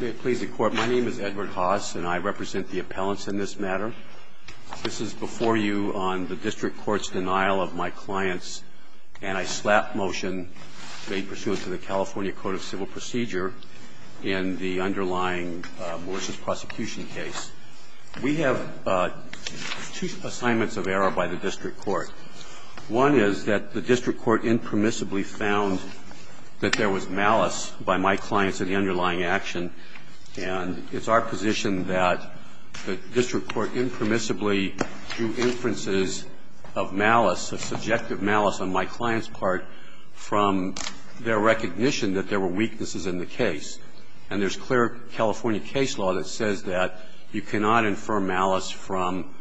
May it please the Court, my name is Edward Haas, and I represent the appellants in this matter. This is before you on the district court's denial of my clients, and I slap motion made pursuant to the California Code of Civil Procedure in the underlying malicious prosecution case. We have two assignments of error by the district court. One is that the district court impermissibly found that there was malice by my clients in the underlying action, and it's our position that the district court impermissibly drew inferences of malice, of subjective malice on my client's part from their recognition that there were weaknesses in the case. And there's clear California case law that says that you cannot infer malice from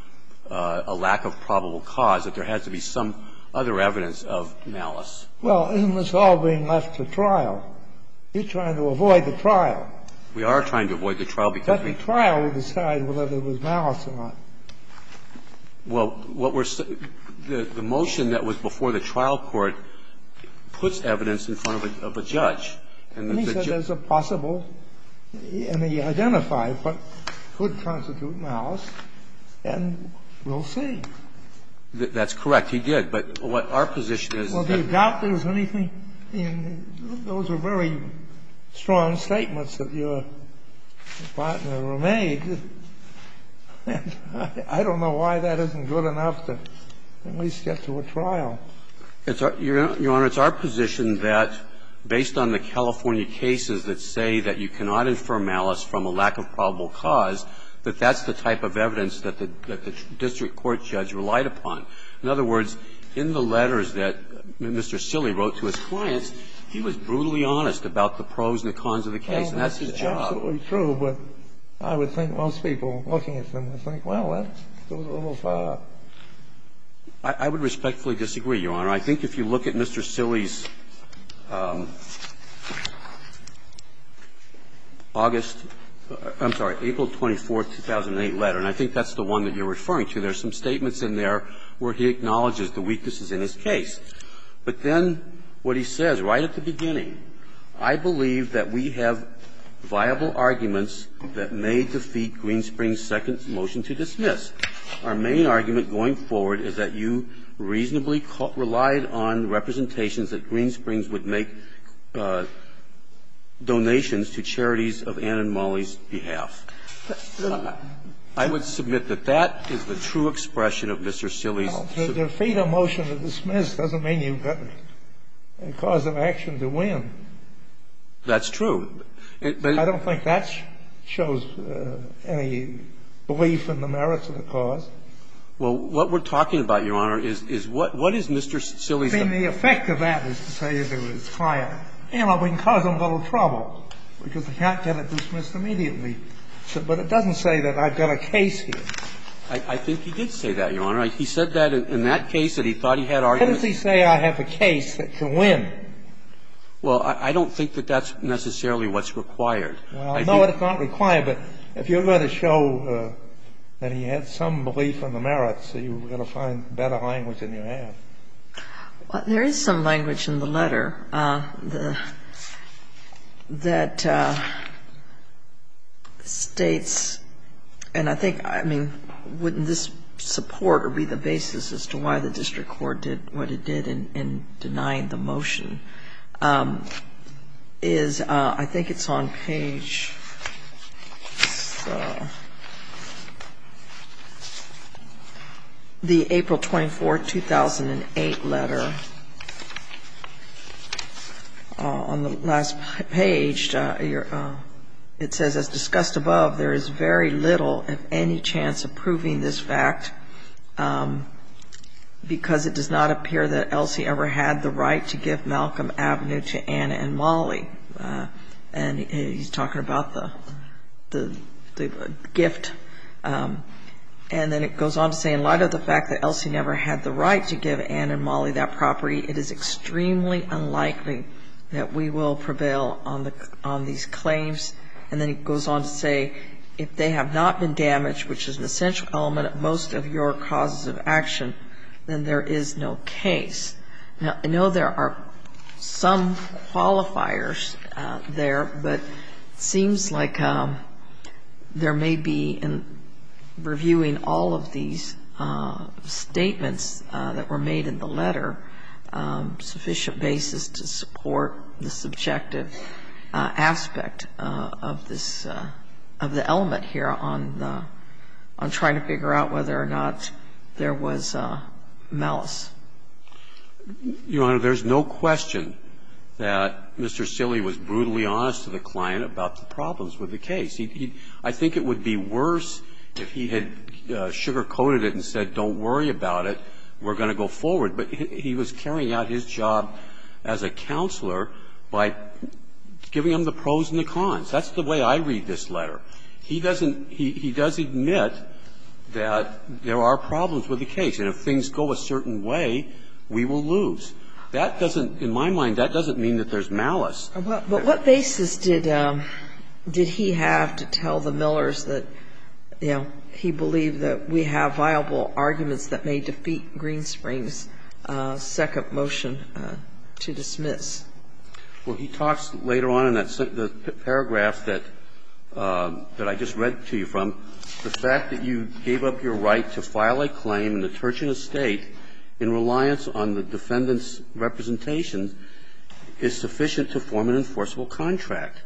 a lack of probable cause, that there has to be some other evidence of malice. Well, isn't this all being left to trial? You're trying to avoid the trial. We are trying to avoid the trial because we're trying to decide whether there was malice or not. Well, what we're the motion that was before the trial court puts evidence in front of a judge. And he said there's a possible, and he identified what could constitute malice, and we'll see. That's correct. He did. But what our position is is that. I don't know why that isn't good enough to at least get to a trial. Your Honor, it's our position that, based on the California cases that say that you cannot infer malice from a lack of probable cause, that that's the type of evidence that the district court judge relied upon. In other words, in the letters that Mr. Silley wrote to his clients, he was brutally honest about the pros and the cons of the case, and that's his job. Well, that's absolutely true, but I would think most people looking at them would think, well, that's a little far. I would respectfully disagree, Your Honor. I think if you look at Mr. Silley's August – I'm sorry, April 24th, 2008 letter. And I think that's the one that you're referring to. There's some statements in there where he acknowledges the weaknesses in his case. But then what he says right at the beginning, I believe that we have viable arguments that may defeat Greenspring's second motion to dismiss. Our main argument going forward is that you reasonably relied on representations that Greenspring would make donations to charities of Ann and Molly's behalf. I would submit that that is the true expression of Mr. Silley's – Well, to defeat a motion to dismiss doesn't mean you've got a cause of action to win. That's true. I don't think that shows any belief in the merits of the cause. Well, what we're talking about, Your Honor, is what is Mr. Silley's – I mean, the effect of that is to say to his client, you know, we can cause them a little trouble because they can't get it dismissed immediately. But it doesn't say that I've got a case here. I think he did say that, Your Honor. He said that in that case that he thought he had arguments – How does he say I have a case that can win? Well, I don't think that that's necessarily what's required. Well, I know it's not required, but if you're going to show that he had some belief in the merits, you've got to find better language than you have. Well, there is some language in the letter that states – and I think, I mean, wouldn't this support or be the basis as to why the district court did what it did in denying the motion is – I think it's on page – the April 24, 2008 letter. On the last page, it says, as discussed above, there is very little, if any, chance of proving this fact because it does not appear that Elsie ever had the right to give Malcolm Avenue to Anna and Molly. And he's talking about the gift. And then it goes on to say, in light of the fact that Elsie never had the right to give Anna and Molly that property, it is extremely unlikely that we will prevail on these claims. And then it goes on to say, if they have not been damaged, which is an essential element of most of your causes of action, then there is no case. Now, I know there are some qualifiers there, but it seems like there may be, in reviewing all of these statements that were made in the letter, sufficient basis to support the subjective aspect of this – of the element here on the – on trying to figure out whether or not there was malice. Your Honor, there's no question that Mr. Silley was brutally honest to the client about the problems with the case. I think it would be worse if he had sugarcoated it and said, don't worry about it. We're going to go forward. But he was carrying out his job as a counselor by giving them the pros and the cons. That's the way I read this letter. He doesn't – he does admit that there are problems with the case, and if things go a certain way, we will lose. That doesn't – in my mind, that doesn't mean that there's malice. But what basis did he have to tell the Millers that, you know, he believed that we have viable arguments that may defeat Greenspring's second motion to dismiss? Well, he talks later on in that paragraph that – that I just read to you from. The fact that you gave up your right to file a claim in the Turchin estate in reliance on the defendant's representation is sufficient to form an enforceable contract.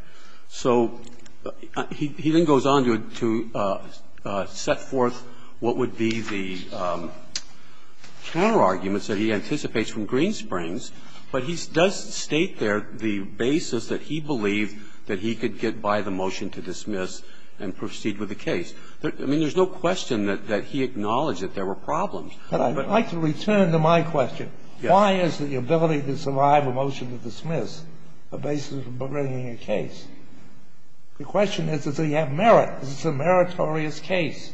So he then goes on to set forth what would be the counterarguments that he anticipates from Greenspring's, but he does state there the basis that he believed that he could get by the motion to dismiss and proceed with the case. I mean, there's no question that he acknowledged that there were problems. But I'd like to return to my question. Yes. Why is the ability to survive a motion to dismiss a basis for bringing a case? The question is, does he have merit? Is this a meritorious case?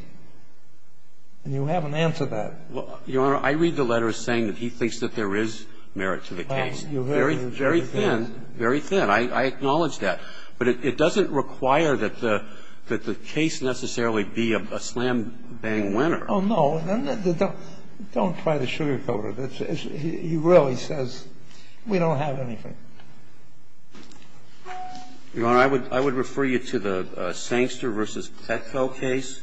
And you haven't answered that. Well, Your Honor, I read the letters saying that he thinks that there is merit to the case. Well, you very – Very thin, very thin. I acknowledge that. But it doesn't require that the case necessarily be a slam-bang winner. Oh, no. Don't try to sugarcoat it. He really says we don't have anything. Your Honor, I would refer you to the Sankster v. Petko case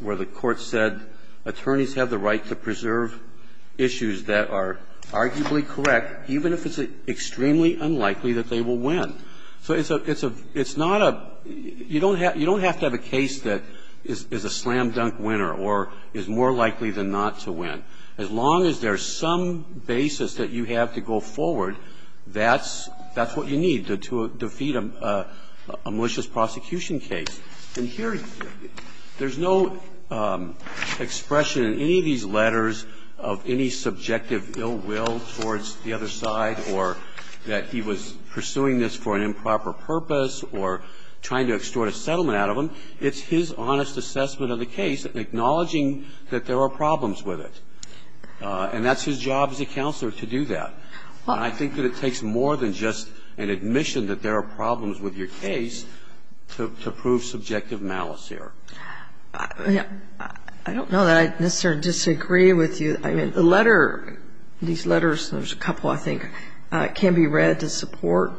where the Court said attorneys have the right to preserve issues that are arguably correct, even if it's extremely unlikely that they will win. So it's a – it's not a – you don't have to have a case that is a slam-dunk winner or is more likely than not to win. As long as there's some basis that you have to go forward, that's what you need to defeat a malicious prosecution case. And here, there's no expression in any of these letters of any subjective ill will towards the other side or that he was pursuing this for an improper purpose or trying to extort a settlement out of him. It's his honest assessment of the case acknowledging that there are problems with it. And that's his job as a counselor to do that. And I think that it takes more than just an admission that there are problems with your case to prove subjective malice here. I don't know that I necessarily disagree with you. I mean, the letter – these letters – there's a couple, I think – can be read to support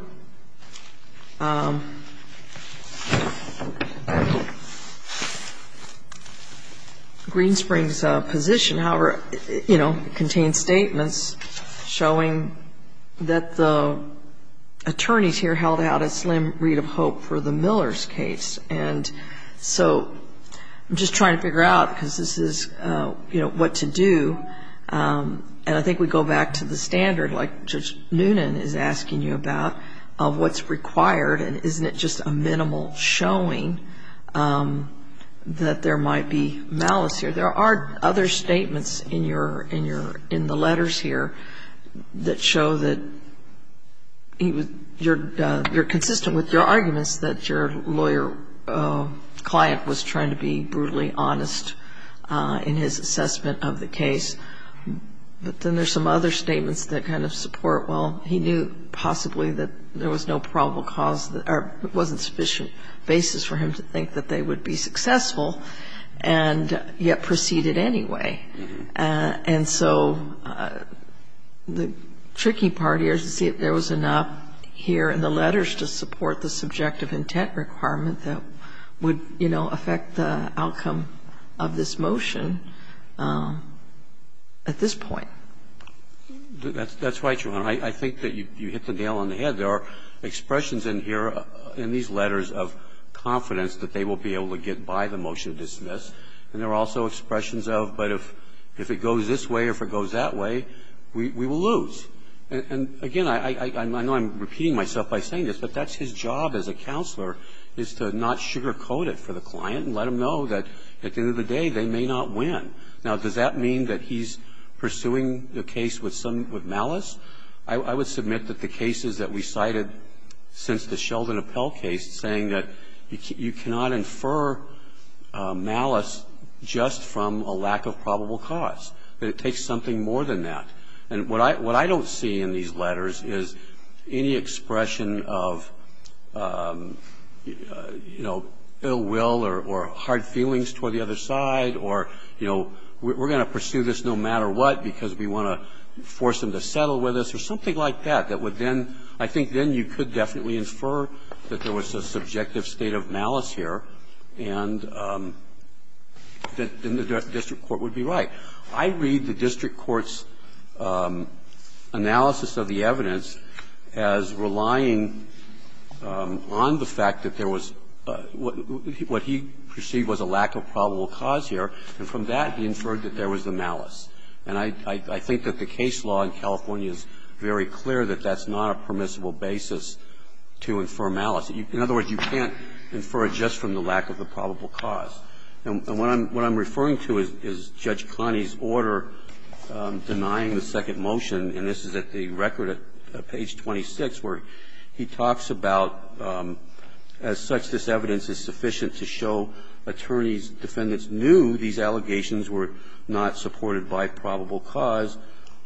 Greenspring's position, however, you know, contains statements showing that the attorneys here held out a slim read of hope for the Millers case. And so I'm just trying to figure out, because this is, you know, what to do. And I think we go back to the standard, like Judge Noonan is asking you about, of what's required. And isn't it just a minimal showing that there might be malice here? There are other statements in the letters here that show that you're consistent with your arguments that your lawyer client was trying to be brutally honest in his assessment of the case. But then there's some other statements that kind of support, well, he knew possibly that there was no probable cause or wasn't a sufficient basis for him to think that they would be successful, and yet proceeded anyway. And so the tricky part here is to see if there was enough here in the letters to support the subjective intent requirement that would, you know, affect the outcome of this motion at this point. That's right, Your Honor. I think that you hit the nail on the head. There are expressions in here, in these letters, of confidence that they will be able to get by the motion to dismiss. And there are also expressions of, but if it goes this way or if it goes that way, we will lose. And again, I know I'm repeating myself by saying this, but that's his job as a counselor, is to not sugarcoat it for the client and let him know that at the end of the day, they may not win. Now, does that mean that he's pursuing the case with malice? I would submit that the cases that we cited since the Sheldon Appell case saying that you cannot infer malice just from a lack of probable cause, that it takes something more than that. And what I don't see in these letters is any expression of, you know, ill will or hard feelings toward the other side or, you know, we're going to pursue this no matter what because we want to force him to settle with us or something like that, that would then – I think then you could definitely infer that there was a subjective state of malice here and that the district court would be right. I read the district court's analysis of the evidence as relying on the fact that there was – what he perceived was a lack of probable cause here, and from that he inferred that there was a malice. And I think that the case law in California is very clear that that's not a permissible basis to infer malice. In other words, you can't infer it just from the lack of the probable cause. And what I'm referring to is Judge Connie's order denying the second motion, and this is at the record at page 26, where he talks about, as such, this evidence is sufficient to show attorneys, defendants knew these allegations were not supported by probable cause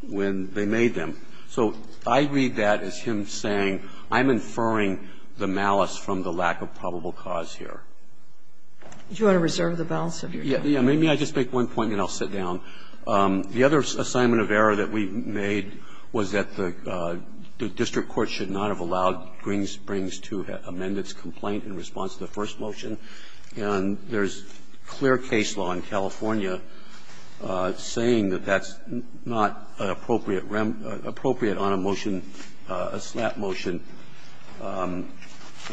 when they made them. So I read that as him saying, I'm inferring the malice from the lack of probable cause here. Do you want to reserve the balance of your time? Yeah. Maybe I'll just make one point and then I'll sit down. The other assignment of error that we made was that the district court should not have allowed Green Springs to amend its complaint in response to the first motion. And there's clear case law in California saying that that's not appropriate on a motion, a slap motion, and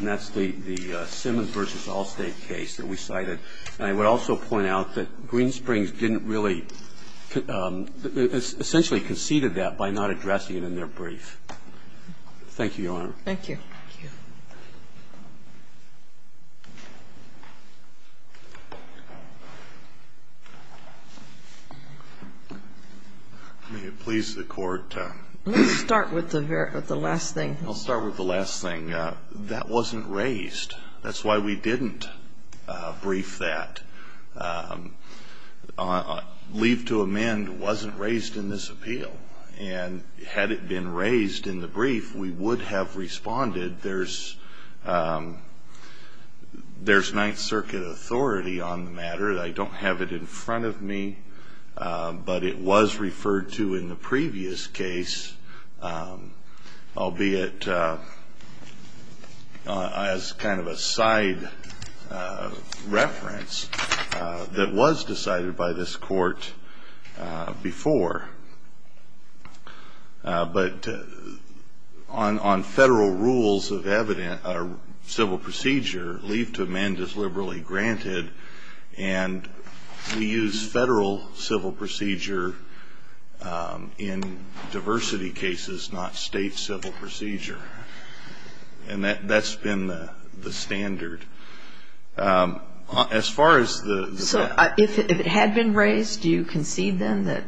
that's the Simmons v. Allstate case that we cited. And I would also point out that Green Springs didn't really – essentially conceded that by not addressing it in their brief. Thank you, Your Honor. Thank you. Thank you. May it please the Court. Let's start with the last thing. I'll start with the last thing. That wasn't raised. That's why we didn't brief that. Leave to amend wasn't raised in this appeal. And had it been raised in the brief, we would have responded. There's Ninth Circuit authority on the matter. I don't have it in front of me, but it was referred to in the previous case, albeit as kind of a side reference that was decided by this Court before. But on federal rules of civil procedure, leave to amend is liberally granted. And we use federal civil procedure in diversity cases, not state civil procedure. And that's been the standard. As far as the – So if it had been raised, do you concede then that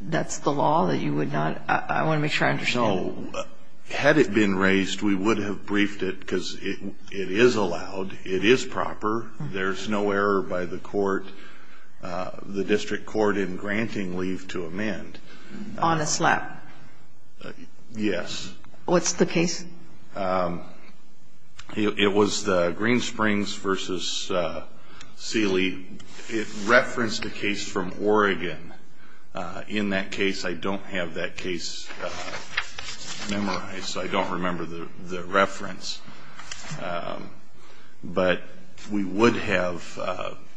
that's the law, that you would not – I want to make sure I understand. No. Had it been raised, we would have briefed it because it is allowed. It is proper. There's no error by the court, the district court, in granting leave to amend. On a slap? Yes. What's the case? It was the Greensprings v. Seeley. It referenced a case from Oregon. In that case, I don't have that case memorized, so I don't remember the reference. But we would have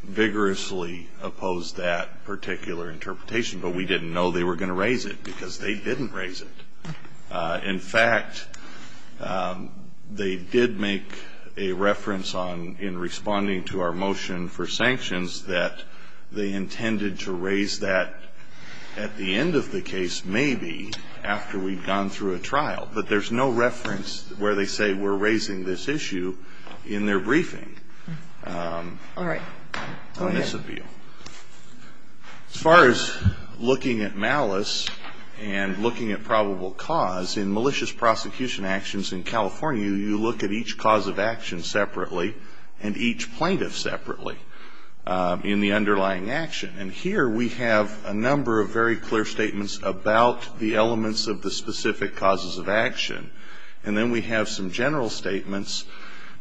vigorously opposed that particular interpretation. But we didn't know they were going to raise it because they didn't raise it. In fact, they did make a reference on – in responding to our motion for sanctions that they intended to raise that at the end of the case maybe after we'd gone through a trial. But there's no reference where they say we're raising this issue in their briefing. All right. Go ahead. On this appeal. As far as looking at malice and looking at probable cause, in malicious prosecution actions in California, you look at each cause of action separately and each plaintiff separately in the underlying action. And here we have a number of very clear statements about the elements of the specific causes of action. And then we have some general statements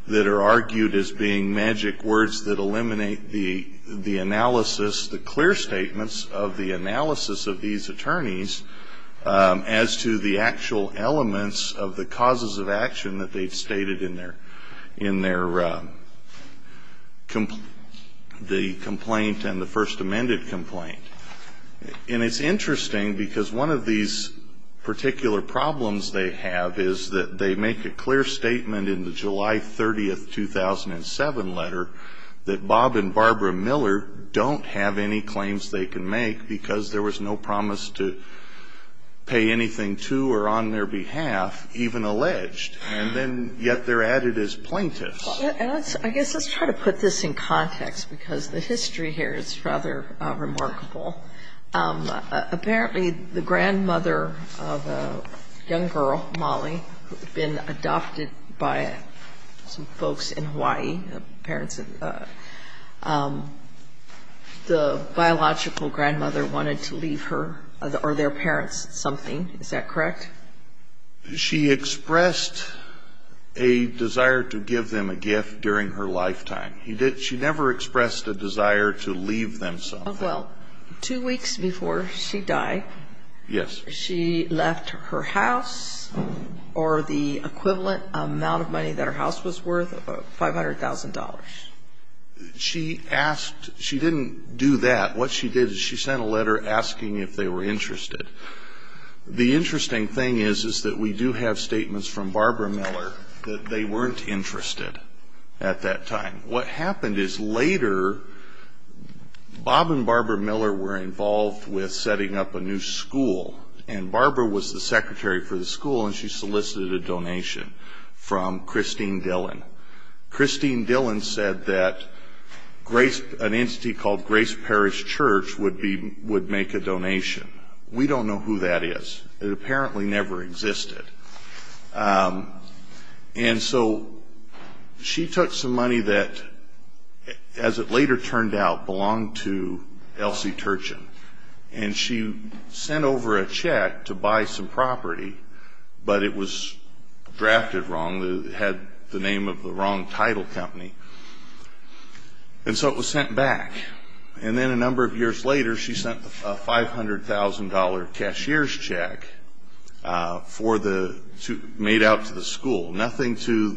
that are argued as being magic words that eliminate the analysis, the clear statements of the analysis of these attorneys as to the actual elements of the causes of action that they've stated in their complaint and the first amended complaint. And it's interesting because one of these particular problems they have is that they make a clear statement in the July 30th, 2007 letter that Bob and Barbara Miller don't have any claims they can make because there was no promise to pay anything to or on their behalf, even alleged, and then yet they're added as plaintiffs. And I guess let's try to put this in context because the history here is rather remarkable. Apparently, the grandmother of a young girl, Molly, who had been adopted by some folks in Hawaii, the biological grandmother wanted to leave her or their parents something. Is that correct? She expressed a desire to give them a gift during her lifetime. She never expressed a desire to leave them something. Well, two weeks before she died, she left her house or the equivalent amount of money that her house was worth, $500,000. She didn't do that. What she did is she sent a letter asking if they were interested. The interesting thing is is that we do have statements from Barbara Miller that they weren't interested at that time. What happened is later Bob and Barbara Miller were involved with setting up a new school, and Barbara was the secretary for the school and she solicited a donation from Christine Dillon. Christine Dillon said that an entity called Grace Parish Church would make a donation. We don't know who that is. It apparently never existed. And so she took some money that, as it later turned out, belonged to Elsie Turchin, and she sent over a check to buy some property, but it was drafted wrong. It had the name of the wrong title company. And so it was sent back. And then a number of years later she sent a $500,000 cashier's check for the made out to the school. Nothing to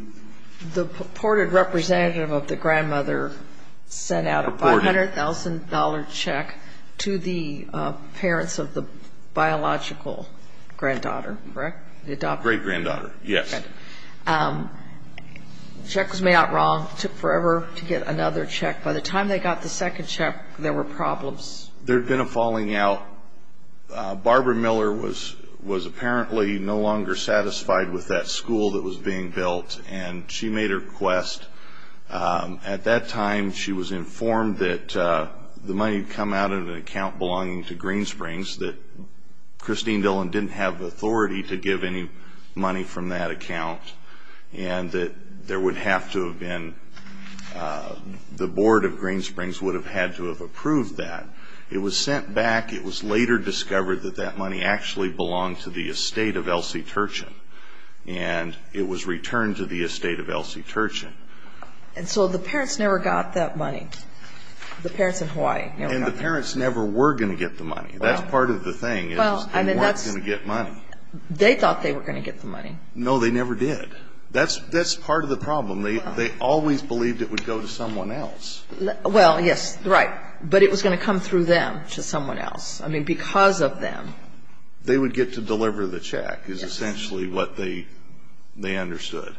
the The purported representative of the grandmother sent out a $500,000 check to the parents of the biological granddaughter, correct? The adopted. Great-granddaughter, yes. Check was made out wrong. Took forever to get another check. By the time they got the second check, there were problems. There had been a falling out. Barbara Miller was apparently no longer satisfied with that school that was being built, and she made her request. At that time, she was informed that the money had come out of an account belonging to Greensprings, that Christine Dillon didn't have authority to give any The board of Greensprings would have had to have approved that. It was sent back. It was later discovered that that money actually belonged to the estate of Elsie Turchin, and it was returned to the estate of Elsie Turchin. And so the parents never got that money, the parents in Hawaii? And the parents never were going to get the money. That's part of the thing is they weren't going to get money. They thought they were going to get the money. No, they never did. That's part of the problem. They always believed it would go to someone else. Well, yes, right. But it was going to come through them to someone else. I mean, because of them. They would get to deliver the check is essentially what they understood.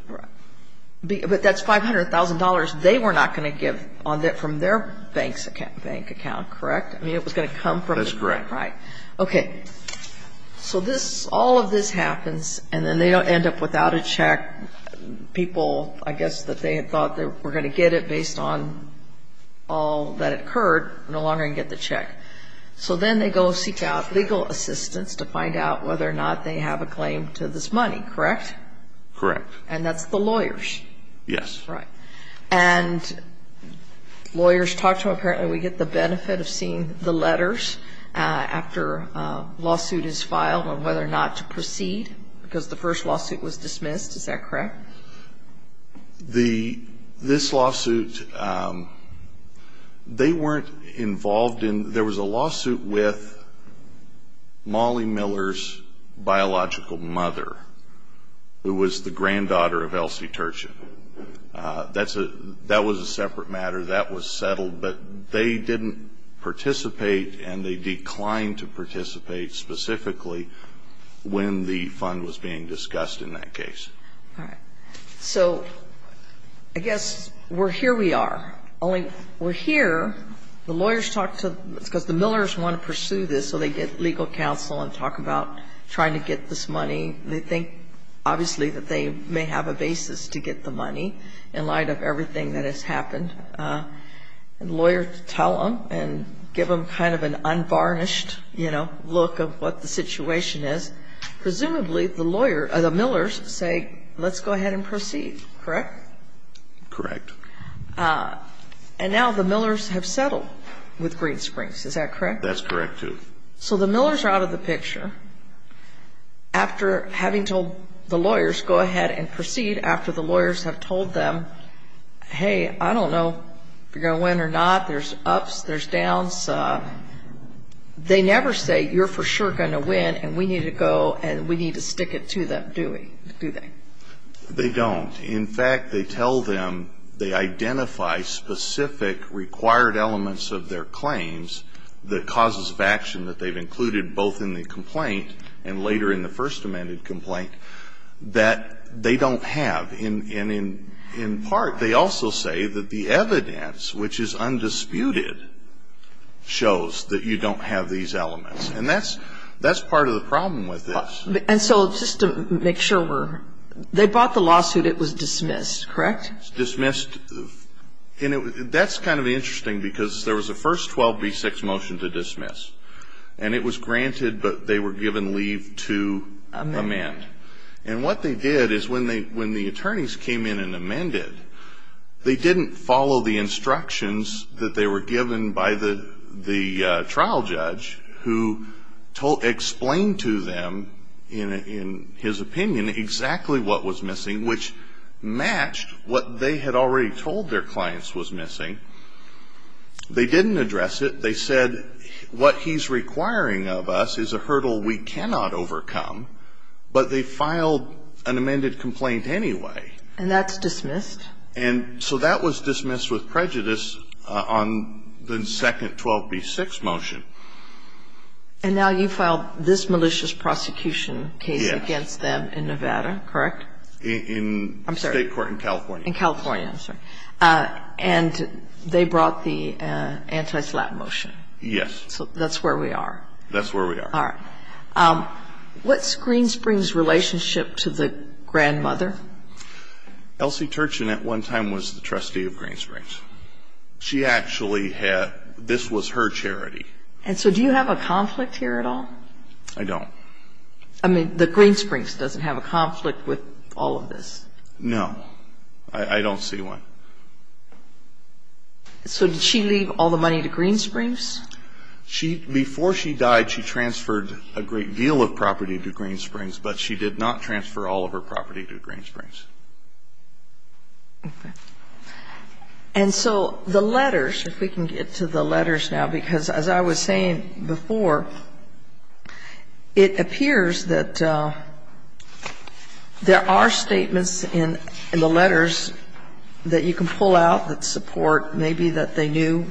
But that's $500,000 they were not going to give from their bank account, correct? I mean, it was going to come from the bank. That's correct. Right. Okay. So all of this happens, and then they end up without a check. People, I guess, that they had thought were going to get it based on all that occurred no longer can get the check. So then they go seek out legal assistance to find out whether or not they have a claim to this money, correct? Correct. And that's the lawyers? Yes. Right. And lawyers talk to them. Apparently we get the benefit of seeing the letters after a lawsuit is filed on whether or not to proceed, because the first lawsuit was dismissed. Is that correct? This lawsuit, they weren't involved in. There was a lawsuit with Molly Miller's biological mother, who was the granddaughter of Elsie Turchin. That was a separate matter. That was settled. But they didn't participate, and they declined to participate specifically when the fund was being discussed in that case. All right. So I guess we're here we are. Only we're here, the lawyers talk to, because the Millers want to pursue this, so they get legal counsel and talk about trying to get this money. They think, obviously, that they may have a basis to get the money in light of everything that has happened, and lawyers tell them and give them kind of an unvarnished, you know, look of what the situation is. Presumably the Millers say, let's go ahead and proceed, correct? Correct. And now the Millers have settled with Green Springs. Is that correct? That's correct, too. So the Millers are out of the picture after having told the lawyers, go ahead and proceed, after the lawyers have told them, hey, I don't know if you're going to win or not. There's ups, there's downs. They never say, you're for sure going to win, and we need to go and we need to stick it to them, do they? They don't. In fact, they tell them they identify specific required elements of their claims, the causes of action that they've included both in the complaint and later in the first amended complaint, that they don't have. And in part, they also say that the evidence, which is undisputed, shows that you don't have these elements. And that's part of the problem with this. And so just to make sure, they brought the lawsuit, it was dismissed, correct? It was dismissed. And that's kind of interesting, because there was a first 12b6 motion to dismiss, and it was granted, but they were given leave to amend. And what they did is when the attorneys came in and amended, they didn't follow the instructions that they were given by the trial judge, who explained to them, in his opinion, exactly what was missing, which matched what they had already told their clients was missing. They didn't address it. They said what he's requiring of us is a hurdle we cannot overcome, but they filed an amended complaint anyway. And that's dismissed? And so that was dismissed with prejudice on the second 12b6 motion. And now you filed this malicious prosecution case against them in Nevada, correct? In California, I'm sorry. And they brought the anti-slap motion? Yes. So that's where we are? That's where we are. All right. What's Green Springs' relationship to the grandmother? Elsie Turchin at one time was the trustee of Green Springs. She actually had this was her charity. And so do you have a conflict here at all? I don't. I mean, the Green Springs doesn't have a conflict with all of this? No. I don't see one. So did she leave all the money to Green Springs? Before she died, she transferred a great deal of property to Green Springs, but she did not transfer all of her property to Green Springs. Okay. And so the letters, if we can get to the letters now, because as I was saying before, it appears that there are statements in the letters that you can pull out that support maybe that they knew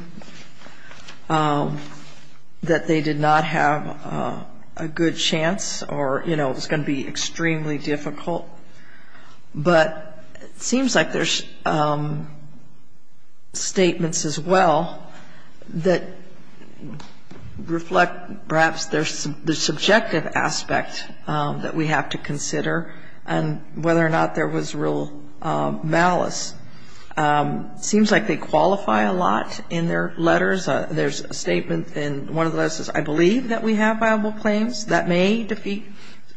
that they did not have a good chance or, you know, it was going to be extremely difficult. But it seems like there's statements as well that reflect perhaps the subjective aspect that we have to consider and whether or not there was real malice. It seems like they qualify a lot in their letters. There's a statement in one of the letters that says, I believe that we have viable claims. That may defeat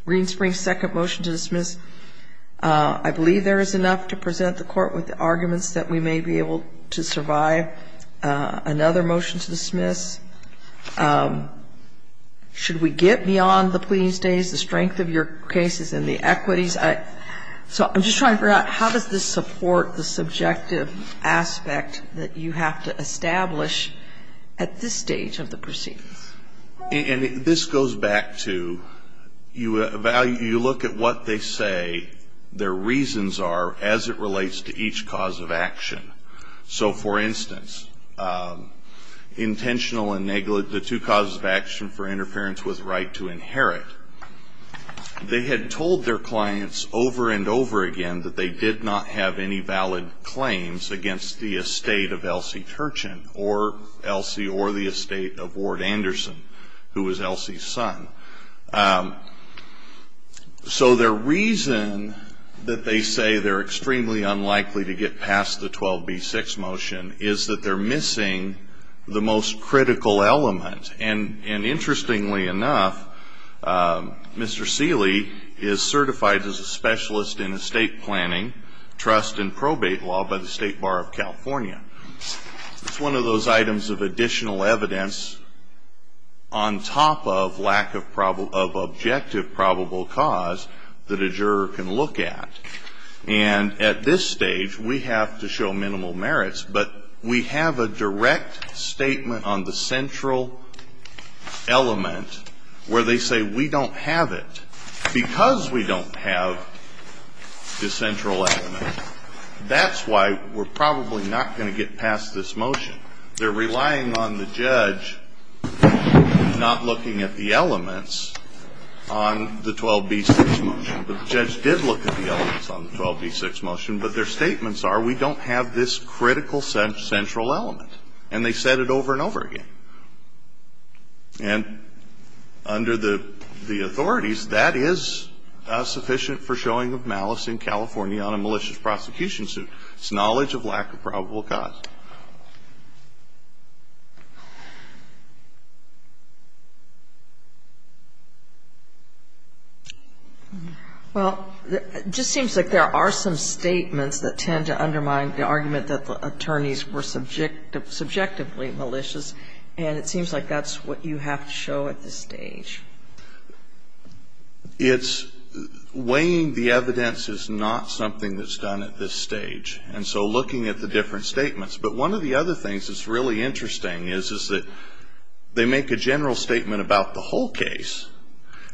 Green Springs' second motion to dismiss. I believe there is enough to present the court with the arguments that we may be able to survive. Another motion to dismiss. Should we get beyond the pleading stays, the strength of your cases, and the equities? So I'm just trying to figure out how does this support the subjective aspect that you have to establish at this stage of the proceedings? And this goes back to you look at what they say their reasons are as it relates to each cause of action. So, for instance, intentional and negligent, the two causes of action for interference with right to inherit, they had told their clients over and over again that they did not have any valid claims against the estate of Elsie Turchin or Elsie or the estate of Ward Anderson, who was Elsie's son. So their reason that they say they're extremely unlikely to get past the 12B6 motion is that they're missing the most critical element. And interestingly enough, Mr. Seeley is certified as a specialist in estate planning trust and probate law by the State Bar of California. It's one of those items of additional evidence on top of lack of objective probable cause that a juror can look at. And at this stage, we have to show minimal merits, but we have a direct statement on the central element where they say we don't have it. Because we don't have the central element, that's why we're probably not going to get past this motion. They're relying on the judge not looking at the elements on the 12B6 motion. But the judge did look at the elements on the 12B6 motion. But their statements are we don't have this critical central element. And they said it over and over again. And under the authorities, that is sufficient for showing of malice in California on a malicious prosecution suit. It's knowledge of lack of probable cause. Well, it just seems like there are some statements that tend to undermine the argument that the attorneys were subjectively malicious, and it seems like that's what you have to show at this stage. It's weighing the evidence is not something that's done at this stage. And so looking at the different statements. But one of the other things that's really interesting is that they make a general statement about the whole case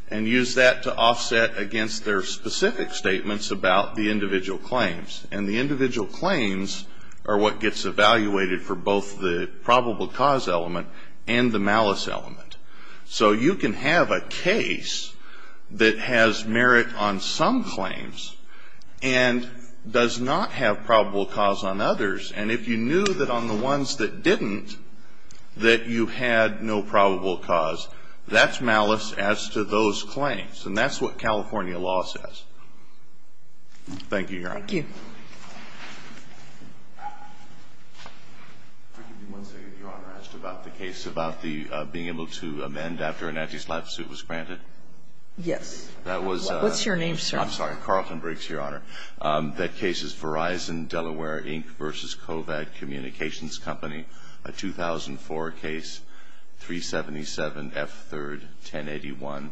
and use that to offset against their specific statements about the individual claims. And the individual claims are what gets evaluated for both the probable cause element and the malice element. So you can have a case that has merit on some claims and does not have probable cause on others. And if you knew that on the ones that didn't that you had no probable cause, that's malice as to those claims. And that's what California law says. Thank you, Your Honor. Thank you. I'll give you one second, Your Honor. I asked about the case about the being able to amend after an anti-SLAPP suit was granted. Yes. What's your name, sir? I'm sorry. Carlton Briggs, Your Honor. That case is Verizon-Delaware, Inc. v. Kovac Communications Company, a 2004 case, 377F3-1081,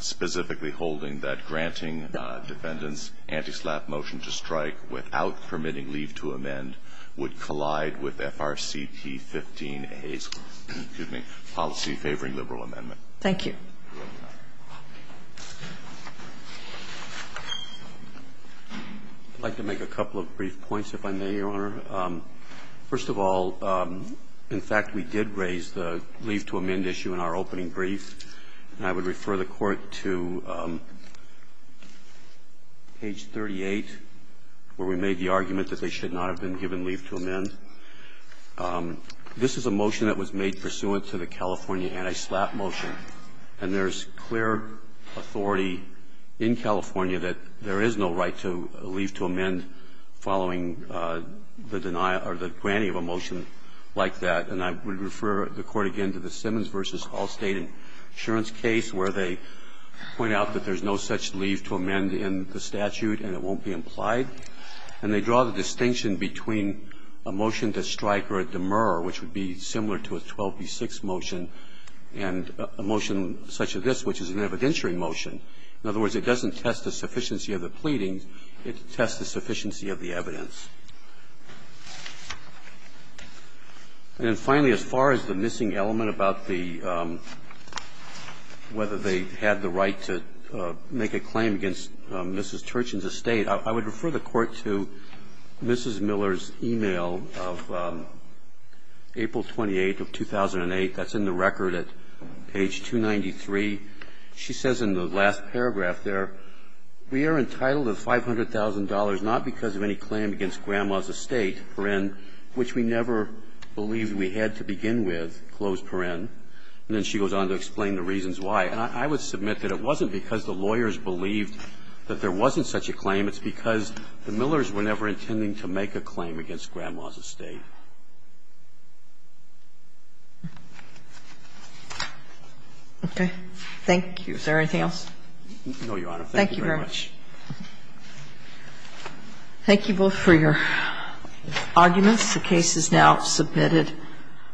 specifically holding that granting defendants anti-SLAPP motion to strike without permitting leave to amend would collide with FRCP-15A's policy favoring liberal amendment. Thank you. I'd like to make a couple of brief points, if I may, Your Honor. First of all, in fact, we did raise the leave to amend issue in our opening brief. And I would refer the Court to page 38, where we made the argument that they should not have been given leave to amend. This is a motion that was made pursuant to the California anti-SLAPP motion. And there is clear authority in California that there is no right to leave to amend following the denial or the granting of a motion like that. And I would refer the Court again to the Simmons v. Hall State insurance case, where they point out that there is no such leave to amend in the statute and it won't be implied. And they draw the distinction between a motion to strike or a demur, which would be similar to a 12b-6 motion, and a motion such as this, which is an evidentiary motion. In other words, it doesn't test the sufficiency of the pleadings. It tests the sufficiency of the evidence. And finally, as far as the missing element about the – whether they had the right to make a claim against Mrs. Turchin's estate, I would refer the Court to Mrs. Miller's e-mail of April 28 of 2008 that's in the record at page 293. She says in the last paragraph there, we are entitled to $500,000 not because of any claim against Grandma's estate, which we never believed we had to begin with. And then she goes on to explain the reasons why. And I would submit that it wasn't because the lawyers believed that there wasn't such a claim. It's because the Millers were never intending to make a claim against Grandma's estate. Okay, thank you. Is there anything else? No, Your Honor. Thank you very much. Thank you both for your arguments. The case is now submitted.